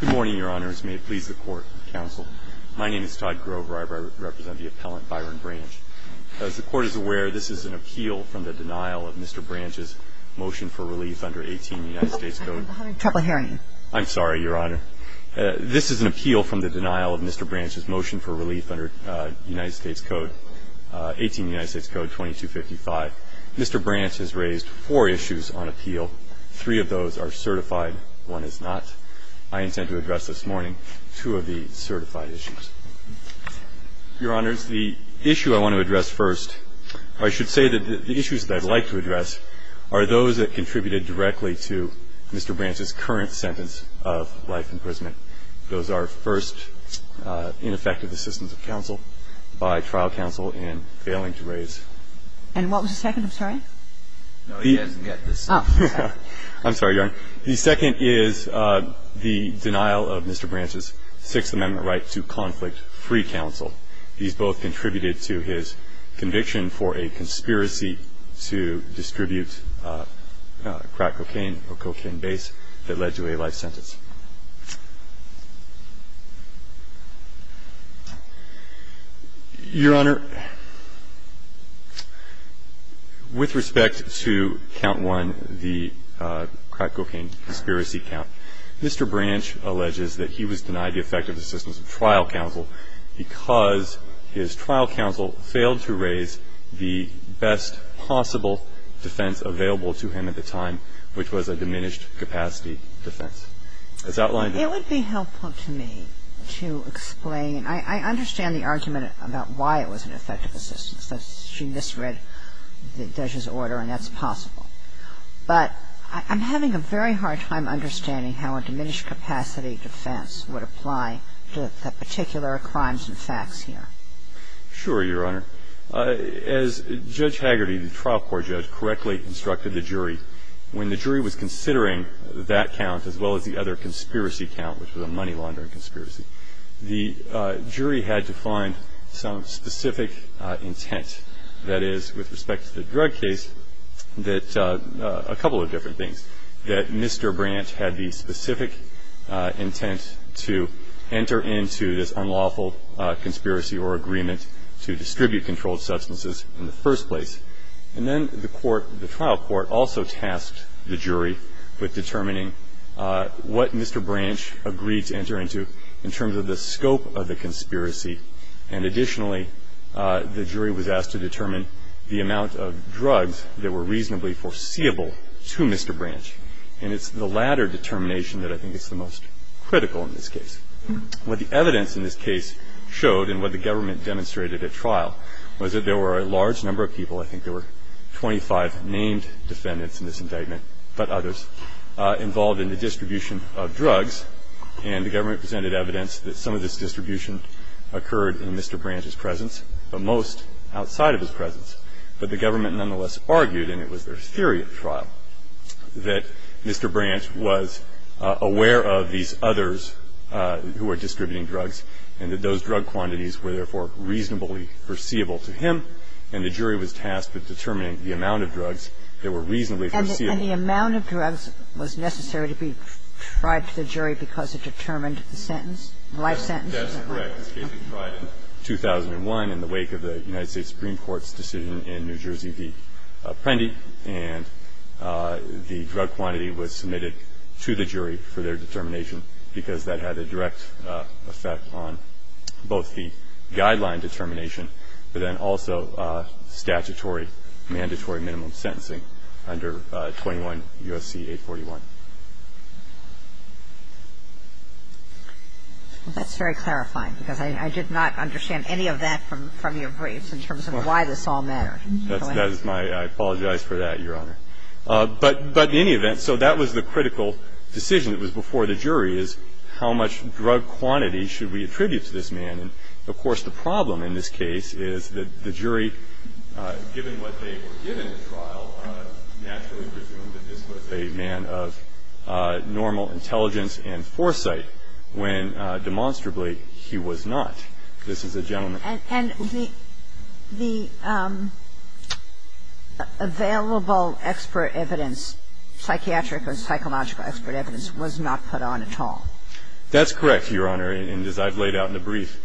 Good morning, Your Honors. May it please the Court and Counsel. My name is Todd Grover. I represent the appellant, Byron Branch. As the Court is aware, this is an appeal from the denial of Mr. Branch's motion for relief under 18 United States Code. I'm sorry, Your Honor. This is an appeal from the denial of Mr. Branch's motion for relief under 18 United States Code 2255. Mr. Branch has raised four issues on appeal. Three of those are certified. One is not. I intend to address this morning two of the certified issues. Your Honors, the issue I want to address first, or I should say that the issues that I'd like to address, are those that contributed directly to Mr. Branch's current sentence of life imprisonment. Those are, first, ineffective assistance of counsel by trial counsel in failing to raise. And what was the second? I'm sorry. No, he doesn't get this. I'm sorry, Your Honor. The second is the denial of Mr. Branch's Sixth Amendment right to conflict-free counsel. These both contributed to his conviction for a conspiracy to distribute crack cocaine or cocaine base that led to a life sentence. Your Honor, with respect to Count 1, the crack cocaine conspiracy count, Mr. Branch alleges that he was denied the effective assistance of trial counsel because his trial counsel failed to raise the best possible defense available to him at the time, which was a diminished capacity defense. It would be helpful to me to explain. I understand the argument about why it was an effective assistance. She misread Desha's order, and that's possible. But I'm having a very hard time understanding how a diminished capacity defense would apply to the particular crimes and facts here. Sure, Your Honor. As Judge Haggerty, the trial court judge, correctly instructed the jury, when the jury was considering that count as well as the other conspiracy count, which was a money laundering conspiracy, the jury had to find some specific intent. That is, with respect to the drug case, that a couple of different things, that Mr. Branch had the specific intent to enter into this unlawful conspiracy or agreement to distribute controlled substances in the first place. And then the court, the trial court, also tasked the jury with determining what Mr. Branch agreed to enter into in terms of the scope of the conspiracy. And additionally, the jury was asked to determine the amount of drugs that were reasonably foreseeable to Mr. Branch. And it's the latter determination that I think is the most critical in this case. What the evidence in this case showed and what the government demonstrated at trial was that there were a large number of people, I think there were 25 named defendants in this indictment, but others, involved in the distribution of drugs. And the government presented evidence that some of this distribution occurred in Mr. Branch's presence, but most outside of his presence. But the government nonetheless argued, and it was their theory at trial, that Mr. Branch was aware of these others who were distributing drugs, and that those drug quantities were therefore reasonably foreseeable to him, and the jury was tasked with determining the amount of drugs that were reasonably foreseeable to him. And the amount of drugs was necessary to be tried to the jury because it determined the sentence, the life sentence? That's correct. This case was tried in 2001 in the wake of the United States Supreme Court's decision in New Jersey v. Prendy, and the drug quantity was submitted to the jury for their determination on both the guideline determination, but then also statutory, mandatory minimum sentencing under 21 U.S.C. 841. Well, that's very clarifying because I did not understand any of that from your briefs in terms of why this all mattered. I apologize for that, Your Honor. But in any event, so that was the critical decision that was before the jury, is how much drug quantity should we attribute to this man. And, of course, the problem in this case is that the jury, given what they were given at trial, naturally presumed that this was a man of normal intelligence and foresight when, demonstrably, he was not. This is a gentleman. And the available expert evidence, psychiatric or psychological expert evidence, was not put on at all. That's correct, Your Honor. And as I've laid out in the brief,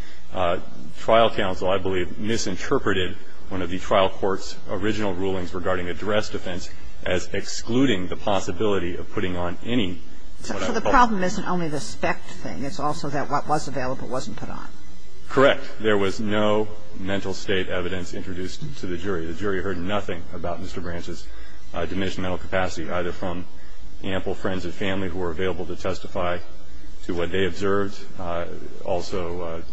trial counsel, I believe, misinterpreted one of the trial court's original rulings regarding addressed offense as excluding the possibility of putting on any. So the problem isn't only the spec thing. It's also that what was available wasn't put on. Correct. There was no mental state evidence introduced to the jury. The jury heard nothing about Mr. Branch's diminished mental capacity, either from ample friends and family who were available to testify to what they observed. Also,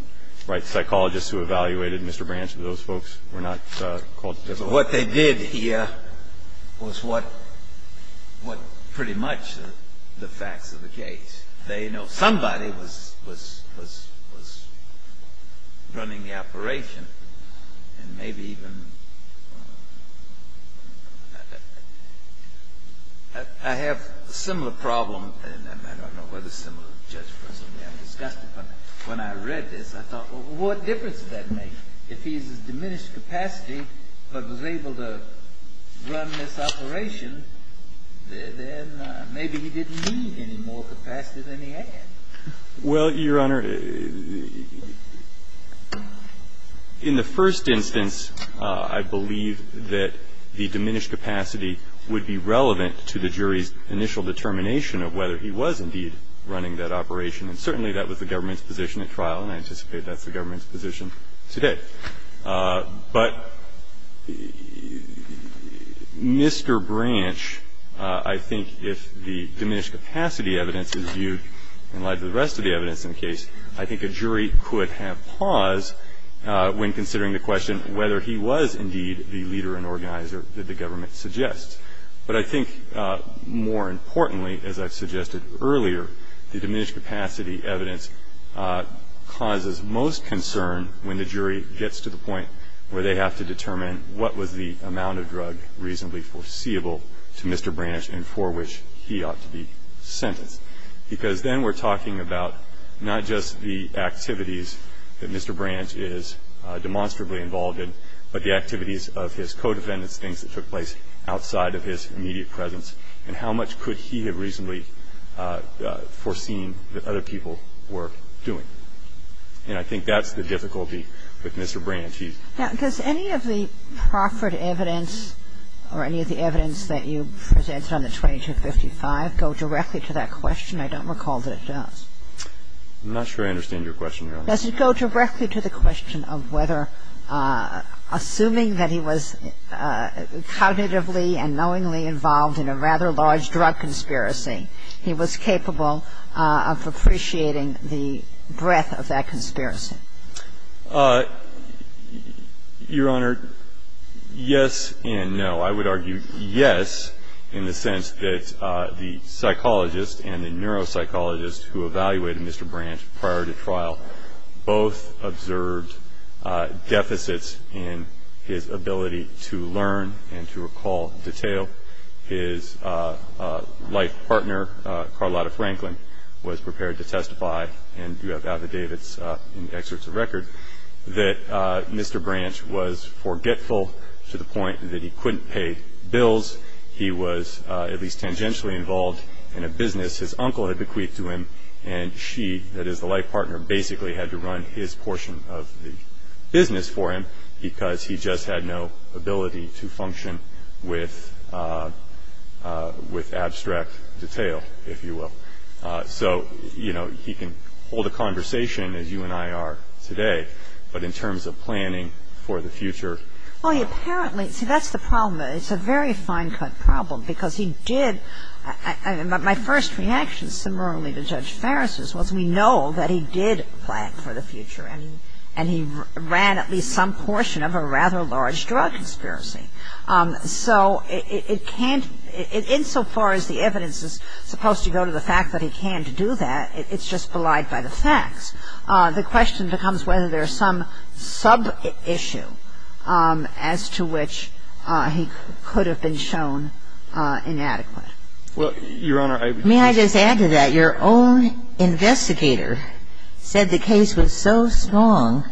right psychologists who evaluated Mr. Branch and those folks were not called to testify. What they did hear was what pretty much the facts of the case. They know somebody was running the operation, and maybe even more capacity than he had. Well, Your Honor, in the first instance, I believe that the judge, in the first instance, I believe that the diminished capacity would be relevant to the jury's initial determination of whether he was indeed running that operation. And certainly that was the government's position at trial, and I anticipate that's the government's position today. But Mr. Branch, I think, if the diminished capacity evidence is viewed in light of the rest of the evidence in the case, I think a jury could have pause when considering the question whether he was indeed the leader and organizer that the government suggests. But I think more importantly, as I've suggested earlier, the diminished capacity evidence causes most concern when the jury gets to the point where they have to determine what was the amount of drug reasonably foreseeable to Mr. Branch and for which he ought to be sentenced. Because then we're talking about not just the activities that Mr. Branch is demonstrably involved in, but the activities of his co-defendants, things that took place outside of his immediate presence, and how much could he have reasonably foreseen that other people were doing. And I think that's the difficulty with Mr. Branch. He's ---- Now, does any of the proffered evidence or any of the evidence that you presented on the 2255 go directly to that question? I don't recall that it does. I'm not sure I understand your question, Your Honor. Does it go directly to the question of whether, assuming that he was cognitively and knowingly involved in a rather large drug conspiracy, he was capable of appreciating the breadth of that conspiracy? Your Honor, yes and no. I would argue yes in the sense that the psychologist and the neuropsychologist who evaluated Mr. Branch prior to trial both observed deficits in his ability to learn and to recall detail. His life partner, Carlotta Franklin, was prepared to testify, and you have affidavits and excerpts of record, that Mr. Branch was forgetful to the point that he couldn't pay bills. He was at least tangentially involved in a business. His uncle had bequeathed to him, and she, that is the life partner, basically had to run his portion of the business for him because he just had no ability to function with abstract detail, if you will. So, you know, he can hold a conversation, as you and I are today, but in terms of planning for the future ---- Well, he apparently ---- see, that's the problem. It's a very fine-cut problem because he did ---- My first reaction similarly to Judge Farris's was we know that he did plan for the future, and he ran at least some portion of a rather large drug conspiracy. So it can't ---- insofar as the evidence is supposed to go to the fact that he can't do that, it's just belied by the facts. The question becomes whether there's some sub-issue as to which he could have been shown inadequate. Well, Your Honor, I ---- May I just add to that? Your own investigator said the case was so strong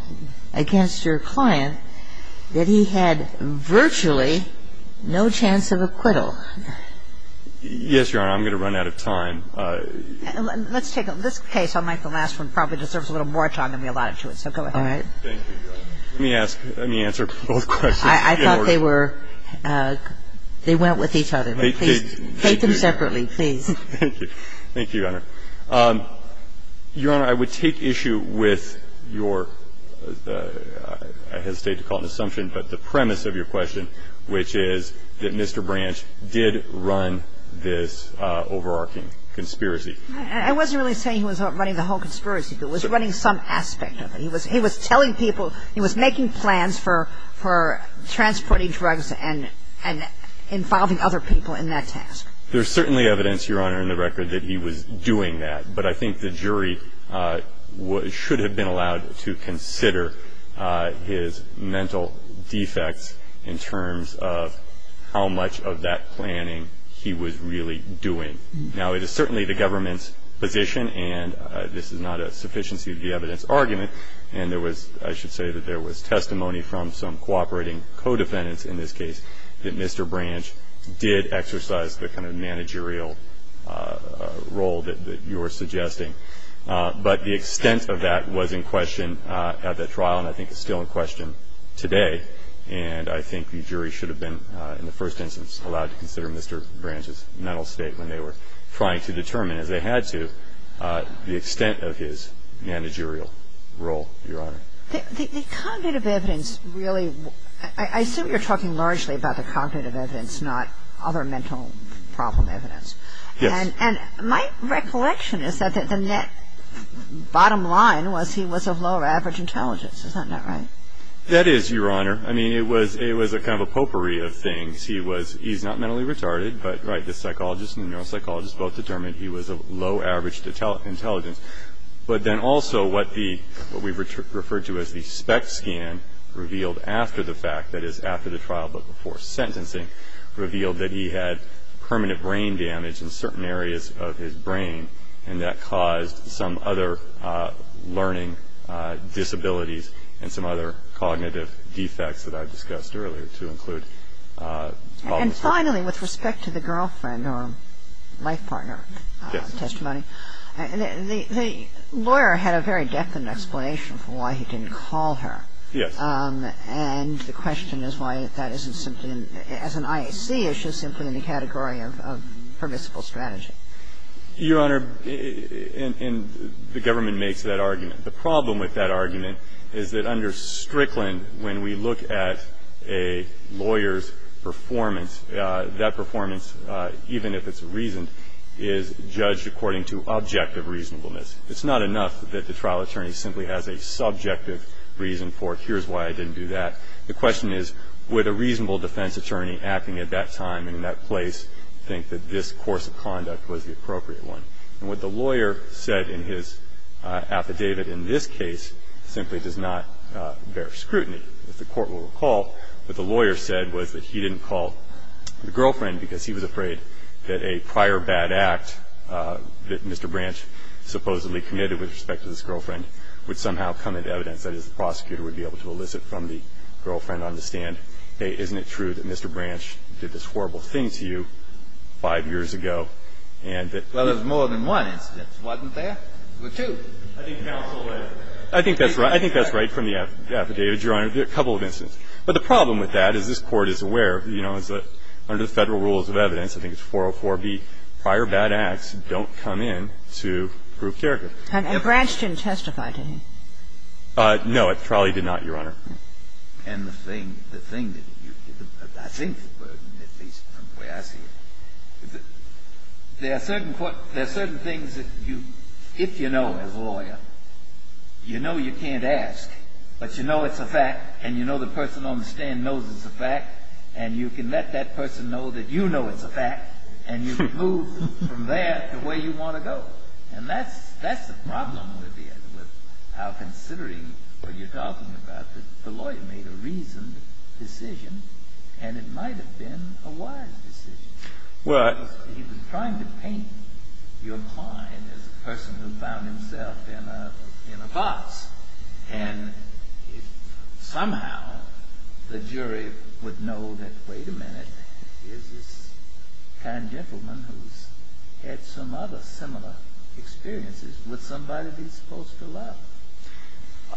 against your client that he had virtually no chance of acquittal. Yes, Your Honor. I'm going to run out of time. Let's take a ---- this case, unlike the last one, probably deserves a little more time than we allotted to it. So go ahead. All right. Thank you, Your Honor. Let me ask ---- let me answer both questions. I thought they were ---- they went with each other. Take them separately, please. Thank you. Thank you, Your Honor. Your Honor, I would take issue with your ---- I hesitate to call it an assumption, but the premise of your question, which is that Mr. Branch did run this overarching conspiracy. I wasn't really saying he was running the whole conspiracy. He was running some aspect of it. He was telling people he was making plans for transporting drugs and involving other people in that task. There's certainly evidence, Your Honor, in the record that he was doing that. But I think the jury should have been allowed to consider his mental defects in terms of how much of that planning he was really doing. Now, it is certainly the government's position, and this is not a sufficiency of the evidence argument, and there was ---- I should say that there was testimony from some cooperating co-defendants in this case that Mr. Branch did exercise the kind of managerial role that you are suggesting. But the extent of that was in question at the trial and I think is still in question today, and I think the jury should have been, in the first instance, allowed to consider Mr. Branch's mental state when they were trying to determine, as they had to, the extent of his managerial role, Your Honor. The cognitive evidence really ---- I assume you're talking largely about the cognitive evidence, not other mental problem evidence. Yes. And my recollection is that the net bottom line was he was of lower average intelligence. Is that not right? That is, Your Honor. I mean, it was a kind of a potpourri of things. He was ---- he's not mentally retarded, but, right, the psychologist and the neuropsychologist both determined he was of low average intelligence. But then also what the ---- what we referred to as the SPECT scan revealed after the fact, that is after the trial but before sentencing, revealed that he had permanent brain damage in certain areas of his brain and that caused some other learning disabilities and some other cognitive defects that I discussed earlier to include problems ---- And finally, with respect to the girlfriend or life partner testimony, the lawyer had a very definite explanation for why he didn't call her. Yes. And the question is why that isn't simply in ---- as an IAC issue, simply in the category of permissible strategy. Your Honor, and the government makes that argument. The problem with that argument is that under Strickland, when we look at a lawyer's performance, that performance, even if it's reasoned, is judged according to objective reasonableness. It's not enough that the trial attorney simply has a subjective reason for it, here's why I didn't do that. The question is would a reasonable defense attorney acting at that time and in that place think that this course of conduct was the appropriate one? And what the lawyer said in his affidavit in this case simply does not bear scrutiny. If the Court will recall, what the lawyer said was that he didn't call the girlfriend because he was afraid that a prior bad act that Mr. Branch supposedly committed with respect to his girlfriend would somehow come into evidence, that is the prosecutor would be able to elicit from the girlfriend, understand, hey, isn't it true that Mr. Branch did this horrible thing to you five years ago? Well, there's more than one instance, wasn't there? There were two. I think that's right. I think that's right from the affidavit, Your Honor. There are a couple of instances. But the problem with that is this Court is aware, you know, is that under the Federal Rules of Evidence, I think it's 404B, prior bad acts don't come in to prove character. And Branch didn't testify to him. No, it probably did not, Your Honor. And the thing that you – I think the burden, at least from the way I see it, there are certain things that you – if you know as a lawyer, you know you can't ask, but you know it's a fact and you know the person on the stand knows it's a fact and you can let that person know that you know it's a fact and you can move from there to where you want to go. And that's the problem with how considering what you're talking about, that the lawyer made a reasoned decision and it might have been a wise decision. Right. Because he was trying to paint your client as a person who found himself in a box. And if somehow the jury would know that, wait a minute, here's this kind gentleman who's had some other similar experiences. Would somebody be supposed to laugh?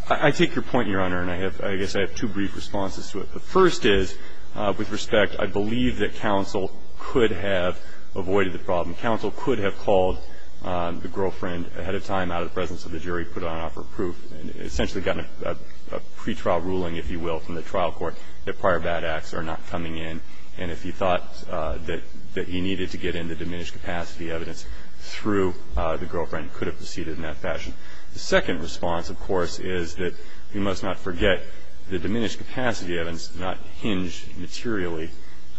I take your point, Your Honor, and I guess I have two brief responses to it. The first is, with respect, I believe that counsel could have avoided the problem. Counsel could have called the girlfriend ahead of time out of the presence of the jury, put on an offer of proof, and essentially gotten a pretrial ruling, if you will, from the trial court that prior bad acts are not coming in. And if he thought that he needed to get into diminished capacity evidence through the girlfriend, he could have proceeded in that fashion. The second response, of course, is that we must not forget the diminished capacity evidence not hinged materially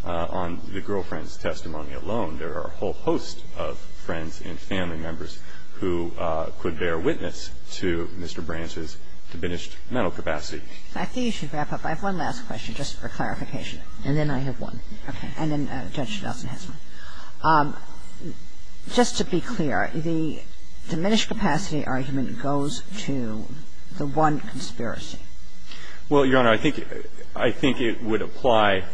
on the girlfriend's testimony alone. There are a whole host of friends and family members who could bear witness to Mr. Branch's diminished mental capacity. I think you should wrap up. I have one last question, just for clarification. And then I have one. Okay. And then Judge Gelsen has one. Just to be clear, the diminished capacity argument goes to the one conspiracy. Well, Your Honor, I think it would apply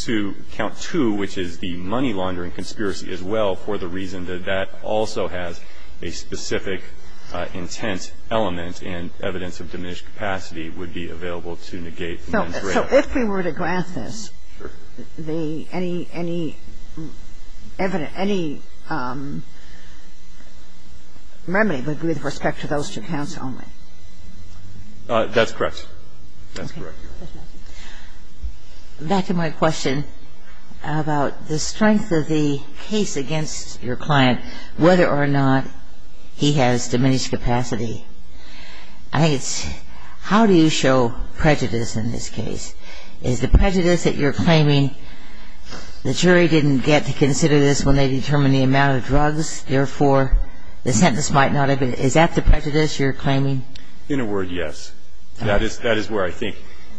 to count two, which is the money laundering conspiracy as well, for the reason that that also has a specific intent element So if we were to grant this, the any, any evident, any remedy would be with respect to those two counts only? That's correct. That's correct, Your Honor. Back to my question about the strength of the case against your client, whether or not he has diminished capacity. I think it's how do you show prejudice in this case? Is the prejudice that you're claiming the jury didn't get to consider this when they determined the amount of drugs, therefore, the sentence might not have been, is that the prejudice you're claiming? In a word, yes. That is where I think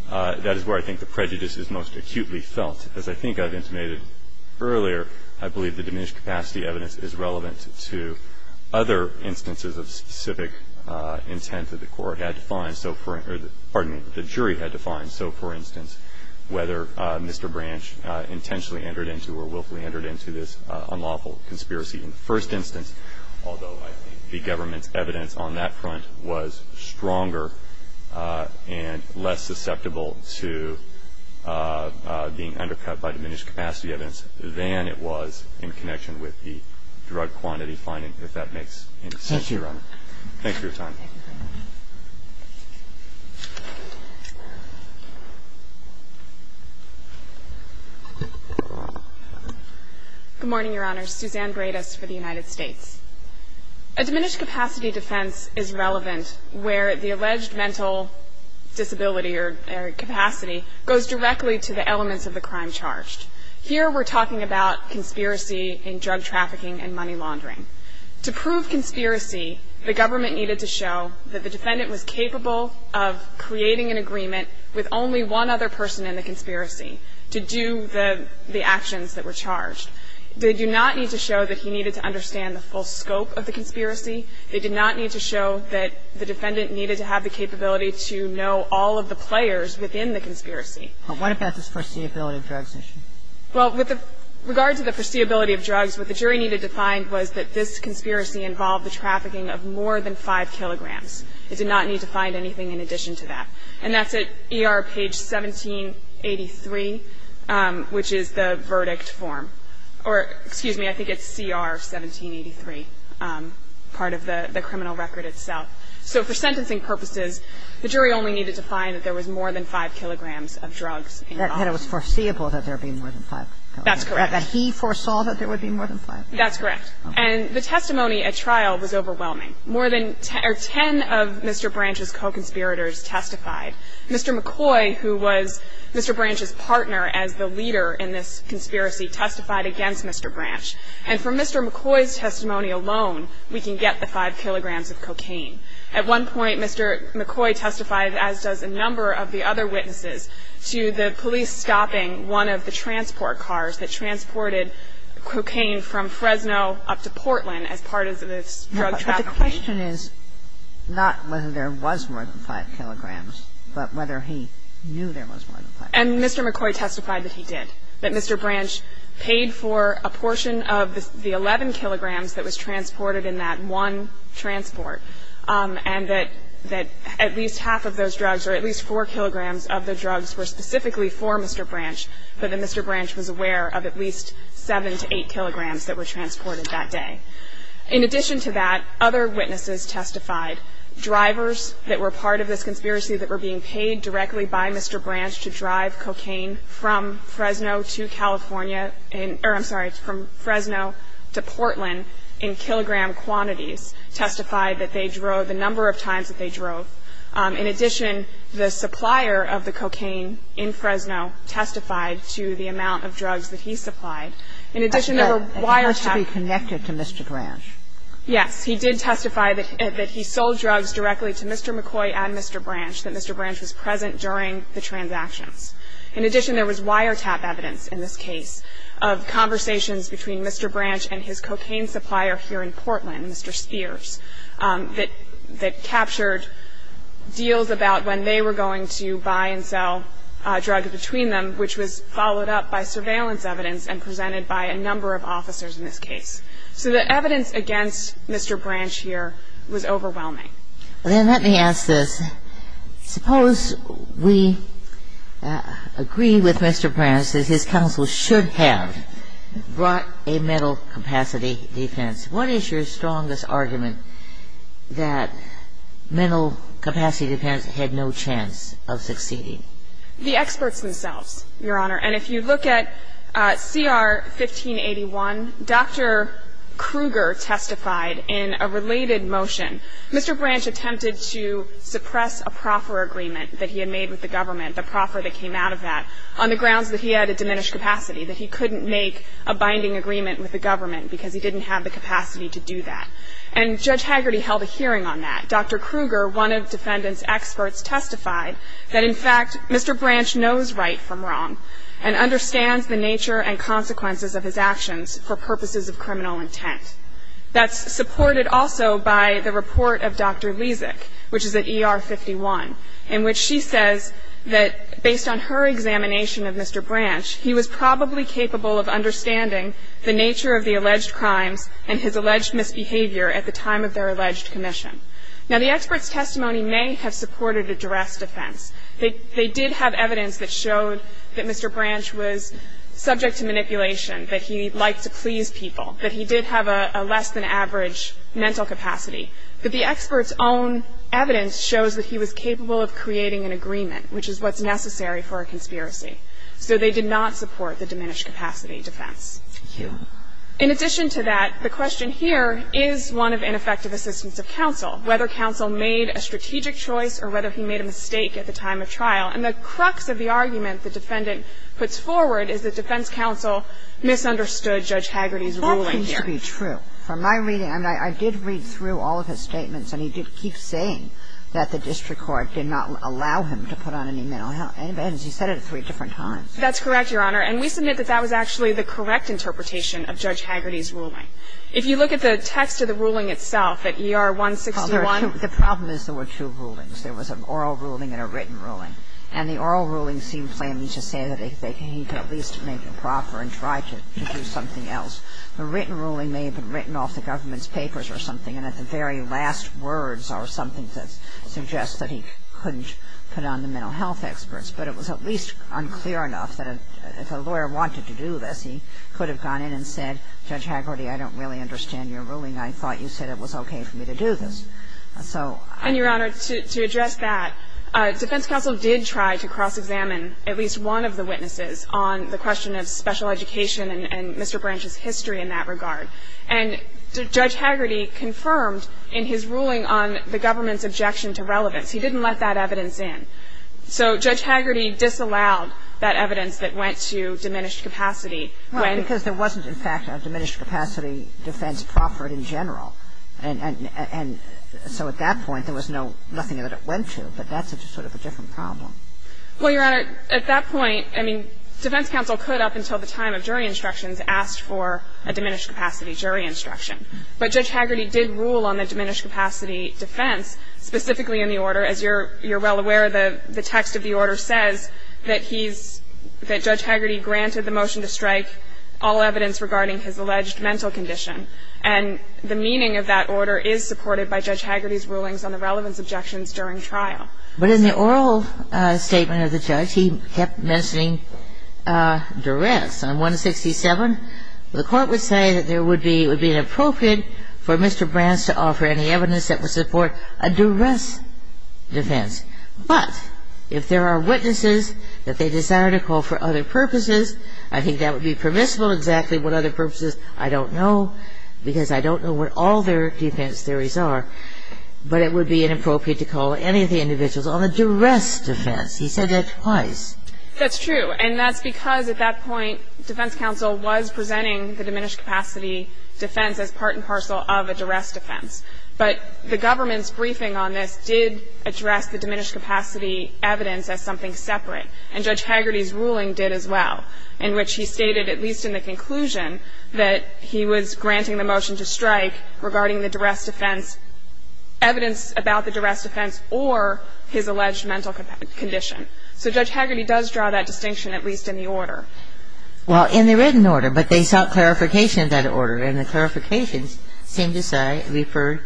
the prejudice is most acutely felt. As I think I've intimated earlier, I believe the diminished capacity evidence is relevant to other instances of specific intent that the court had defined, pardon me, the jury had defined. So, for instance, whether Mr. Branch intentionally entered into or willfully entered into this unlawful conspiracy in the first instance, although I think the government's evidence on that front was stronger and less susceptible to being brought to trial, I do believe that the diminished capacity defense is relevant to other instances of specific intent that the court had defined. So, for instance, whether the jury had intentionally entered into or willfully entered into this unlawful conspiracy in the first instance, although I think the To prove conspiracy, the government needed to show that the defendant was capable of creating an agreement with only one other person in the conspiracy to do the actions that were charged. They do not need to show that he needed to understand the full scope of the conspiracy. They did not need to show that the defendant needed to have the capability to know all of the players within the conspiracy. But what about this foreseeability of drugs issue? Well, with regard to the foreseeability of drugs, what the jury needed to find was that this conspiracy involved the trafficking of more than 5 kilograms. It did not need to find anything in addition to that. And that's at ER page 1783, which is the verdict form. Or, excuse me, I think it's CR 1783, part of the criminal record itself. So for sentencing purposes, the jury only needed to find that there was more than 5 kilograms of drugs involved. That it was foreseeable that there would be more than 5 kilograms. That's correct. That he foresaw that there would be more than 5. That's correct. And the testimony at trial was overwhelming. More than 10 of Mr. Branch's co-conspirators testified. Mr. McCoy, who was Mr. Branch's partner as the leader in this conspiracy, testified against Mr. Branch. And from Mr. McCoy's testimony alone, we can get the 5 kilograms of cocaine. At one point, Mr. McCoy testified, as does a number of the other witnesses, to the police stopping one of the transport cars that transported cocaine from Fresno up to Portland as part of this drug trafficking. But the question is not whether there was more than 5 kilograms, but whether he knew there was more than 5 kilograms. And Mr. McCoy testified that he did, that Mr. Branch paid for a portion of the 11 kilograms that was transported in that one transport, and that at least half of those drugs or at least 4 kilograms of the drugs were specifically for Mr. Branch, but that Mr. Branch was aware of at least 7 to 8 kilograms that were transported that day. In addition to that, other witnesses testified. Drivers that were part of this conspiracy that were being paid directly by Mr. Branch to drive cocaine from Fresno to California, or I'm sorry, from Fresno to Portland in kilogram quantities, testified that they drove the number of times that they drove. In addition, the supplier of the cocaine in Fresno testified to the amount of drugs that he supplied. In addition, there were wiretaps. And he must have been connected to Mr. Branch. Yes. He did testify that he sold drugs directly to Mr. McCoy and Mr. Branch, that Mr. Branch was present during the transactions. In addition, there was wiretap evidence in this case of conversations between Mr. Branch and his cocaine supplier here in Portland, Mr. Spears, that captured deals about when they were going to buy and sell drugs between them, which was followed up by surveillance evidence and presented by a number of officers in this case. So the evidence against Mr. Branch here was overwhelming. Then let me ask this. Suppose we agree with Mr. Branch that his counsel should have brought a mental capacity defense. What is your strongest argument that mental capacity defense had no chance of succeeding? The experts themselves, Your Honor. And if you look at CR 1581, Dr. Kruger testified in a related motion. Mr. Branch attempted to suppress a proffer agreement that he had made with the government, the proffer that came out of that, on the grounds that he had a diminished capacity, that he couldn't make a binding agreement with the government because he didn't have the capacity to do that. And Judge Hagerty held a hearing on that. Dr. Kruger, one of defendant's experts, testified that, in fact, Mr. Branch knows right from wrong and understands the nature and consequences of his actions for purposes of criminal intent. That's supported also by the report of Dr. Lezik, which is at ER 51, in which she says that based on her examination of Mr. Branch, he was probably capable of alleged misbehavior at the time of their alleged commission. Now, the expert's testimony may have supported a duress defense. They did have evidence that showed that Mr. Branch was subject to manipulation, that he liked to please people, that he did have a less than average mental capacity. But the expert's own evidence shows that he was capable of creating an agreement, which is what's necessary for a conspiracy. So they did not support the diminished capacity defense. Thank you. In addition to that, the question here is one of ineffective assistance of counsel, whether counsel made a strategic choice or whether he made a mistake at the time of trial. And the crux of the argument the defendant puts forward is that defense counsel misunderstood Judge Hagerty's ruling here. That seems to be true. From my reading, I mean, I did read through all of his statements, and he did keep saying that the district court did not allow him to put on any mental health advantage. He said it three different times. That's correct, Your Honor. And we submit that that was actually the correct interpretation of Judge Hagerty's ruling. If you look at the text of the ruling itself, at ER-161. The problem is there were two rulings. There was an oral ruling and a written ruling. And the oral ruling seemed plainly to say that he could at least make it proper and try to do something else. The written ruling may have been written off the government's papers or something, and at the very last words are something that suggests that he couldn't put on the mental health experts. But it was at least unclear enough that if a lawyer wanted to do this, he could have gone in and said, Judge Hagerty, I don't really understand your ruling. I thought you said it was okay for me to do this. So I don't know. And, Your Honor, to address that, defense counsel did try to cross-examine at least one of the witnesses on the question of special education and Mr. Branch's history in that regard. And Judge Hagerty confirmed in his ruling on the government's objection to relevance he didn't let that evidence in. So Judge Hagerty disallowed that evidence that went to diminished capacity. When he was in fact a diminished capacity defense proffered in general. And so at that point, there was nothing that it went to. But that's sort of a different problem. Well, Your Honor, at that point, I mean, defense counsel could, up until the time of jury instructions, ask for a diminished capacity jury instruction. But Judge Hagerty did rule on the diminished capacity defense specifically in the order. As you're well aware, the text of the order says that he's, that Judge Hagerty granted the motion to strike all evidence regarding his alleged mental condition. And the meaning of that order is supported by Judge Hagerty's rulings on the relevance objections during trial. But in the oral statement of the judge, he kept mentioning duress. On 167, the Court would say that there would be, it would be inappropriate for Mr. Brans to offer any evidence that would support a duress defense. But if there are witnesses that they desire to call for other purposes, I think that would be permissible. Exactly what other purposes, I don't know, because I don't know what all their defense theories are. But it would be inappropriate to call any of the individuals on a duress defense. He said that twice. That's true. And that's because at that point, defense counsel was presenting the diminished capacity defense as part and parcel of a duress defense. But the government's briefing on this did address the diminished capacity evidence as something separate. And Judge Hagerty's ruling did as well, in which he stated, at least in the conclusion, that he was granting the motion to strike regarding the duress defense, evidence about the duress defense or his alleged mental condition. So Judge Hagerty does draw that distinction, at least in the order. Well, in the written order. But they sought clarification of that order. And the clarifications seem to say, refer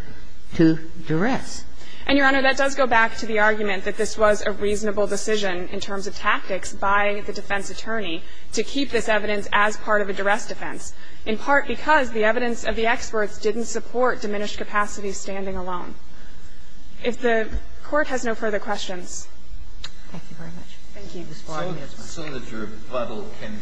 to duress. And, Your Honor, that does go back to the argument that this was a reasonable decision in terms of tactics by the defense attorney to keep this evidence as part of a duress defense, in part because the evidence of the experts didn't support diminished capacity standing alone. If the Court has no further questions. Thank you very much. Thank you, Ms. Farley. As soon as your rebuttal can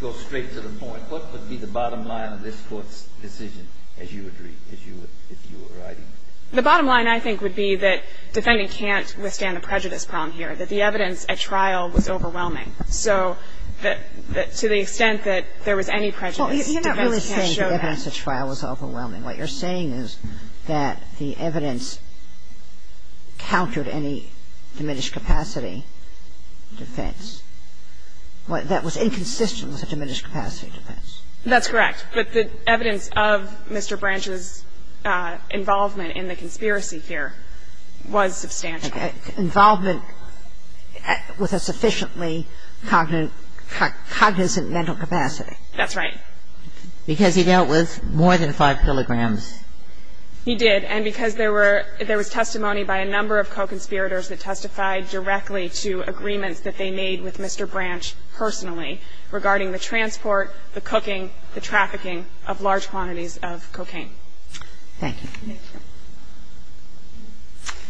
go straight to the point, what would be the bottom line of this Court's decision, as you would read, as you would, if you were writing it? The bottom line, I think, would be that defending can't withstand a prejudice problem here, that the evidence at trial was overwhelming. So to the extent that there was any prejudice, defense can't show that. Well, you're not really saying the evidence at trial was overwhelming. What you're saying is that the evidence countered any diminished capacity defense that was inconsistent with a diminished capacity defense. That's correct. But the evidence of Mr. Branch's involvement in the conspiracy here was substantial. Involvement with a sufficiently cognizant mental capacity. That's right. Because he dealt with more than 5 kilograms. He did. And because there were ñ there was testimony by a number of co-conspirators that testified directly to agreements that they made with Mr. Branch personally regarding the transport, the cooking, the trafficking of large quantities of cocaine. Thank you.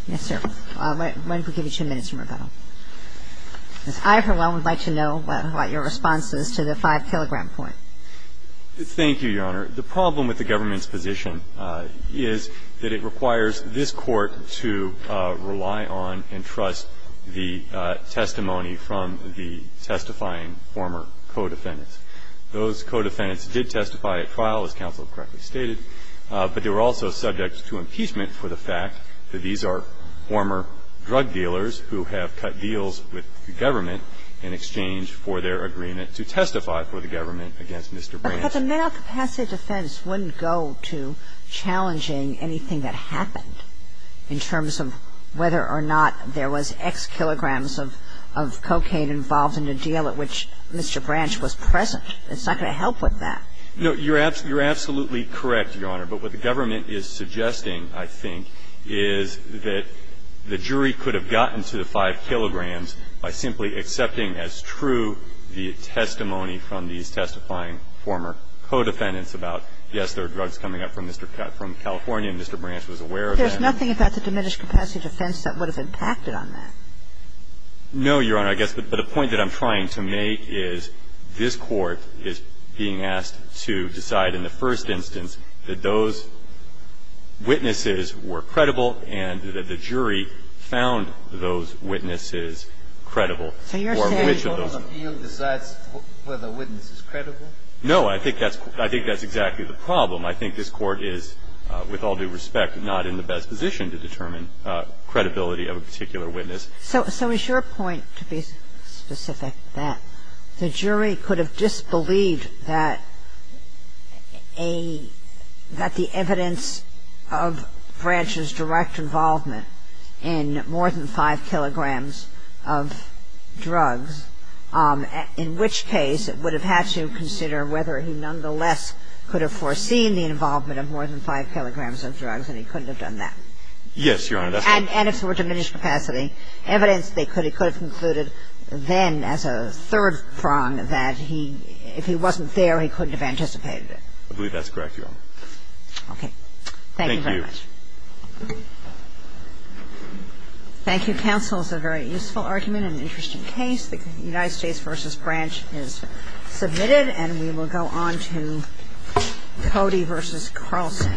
Yes, sir. Why don't we give you two minutes for rebuttal. Ms. Iverwell would like to know what your response is to the 5-kilogram point. Thank you, Your Honor. The problem with the government's position is that it requires this Court to rely on and trust the testimony from the testifying former co-defendants. Those co-defendants did testify at trial, as counsel correctly stated, but they were also subject to impeachment for the fact that these are former drug dealers who have cut deals with the government in exchange for their agreement to testify for the government against Mr. Branch. But the mental capacity defense wouldn't go to challenging anything that happened in terms of whether or not there was X kilograms of cocaine involved in a deal at which Mr. Branch was present. It's not going to help with that. No, you're absolutely correct, Your Honor. But what the government is suggesting, I think, is that the jury could have gotten to the 5 kilograms by simply accepting as true the testimony from these testifying former co-defendants about, yes, there are drugs coming up from Mr. California and Mr. Branch was aware of that. There's nothing about the diminished capacity defense that would have impacted on that. No, Your Honor. I guess the point that I'm trying to make is this Court is being asked to decide in the first instance that those witnesses were credible and that the jury found those witnesses credible. So you're saying the court on the field decides whether a witness is credible? No. I think that's exactly the problem. I think this Court is, with all due respect, not in the best position to determine credibility of a particular witness. So is your point, to be specific, that the jury could have disbelieved that a — that the evidence of Branch's direct involvement in more than 5 kilograms of drugs, in which case it would have had to consider whether he nonetheless could have foreseen the involvement of more than 5 kilograms of drugs and he couldn't have done that? Yes, Your Honor. And if there were diminished capacity evidence, they could have concluded then as a third prong that he — if he wasn't there, he couldn't have anticipated it. I believe that's correct, Your Honor. Thank you very much. Thank you. Thank you, counsel. It's a very useful argument and an interesting case. The United States v. Branch is submitted, and we will go on to Cody v. Carlson.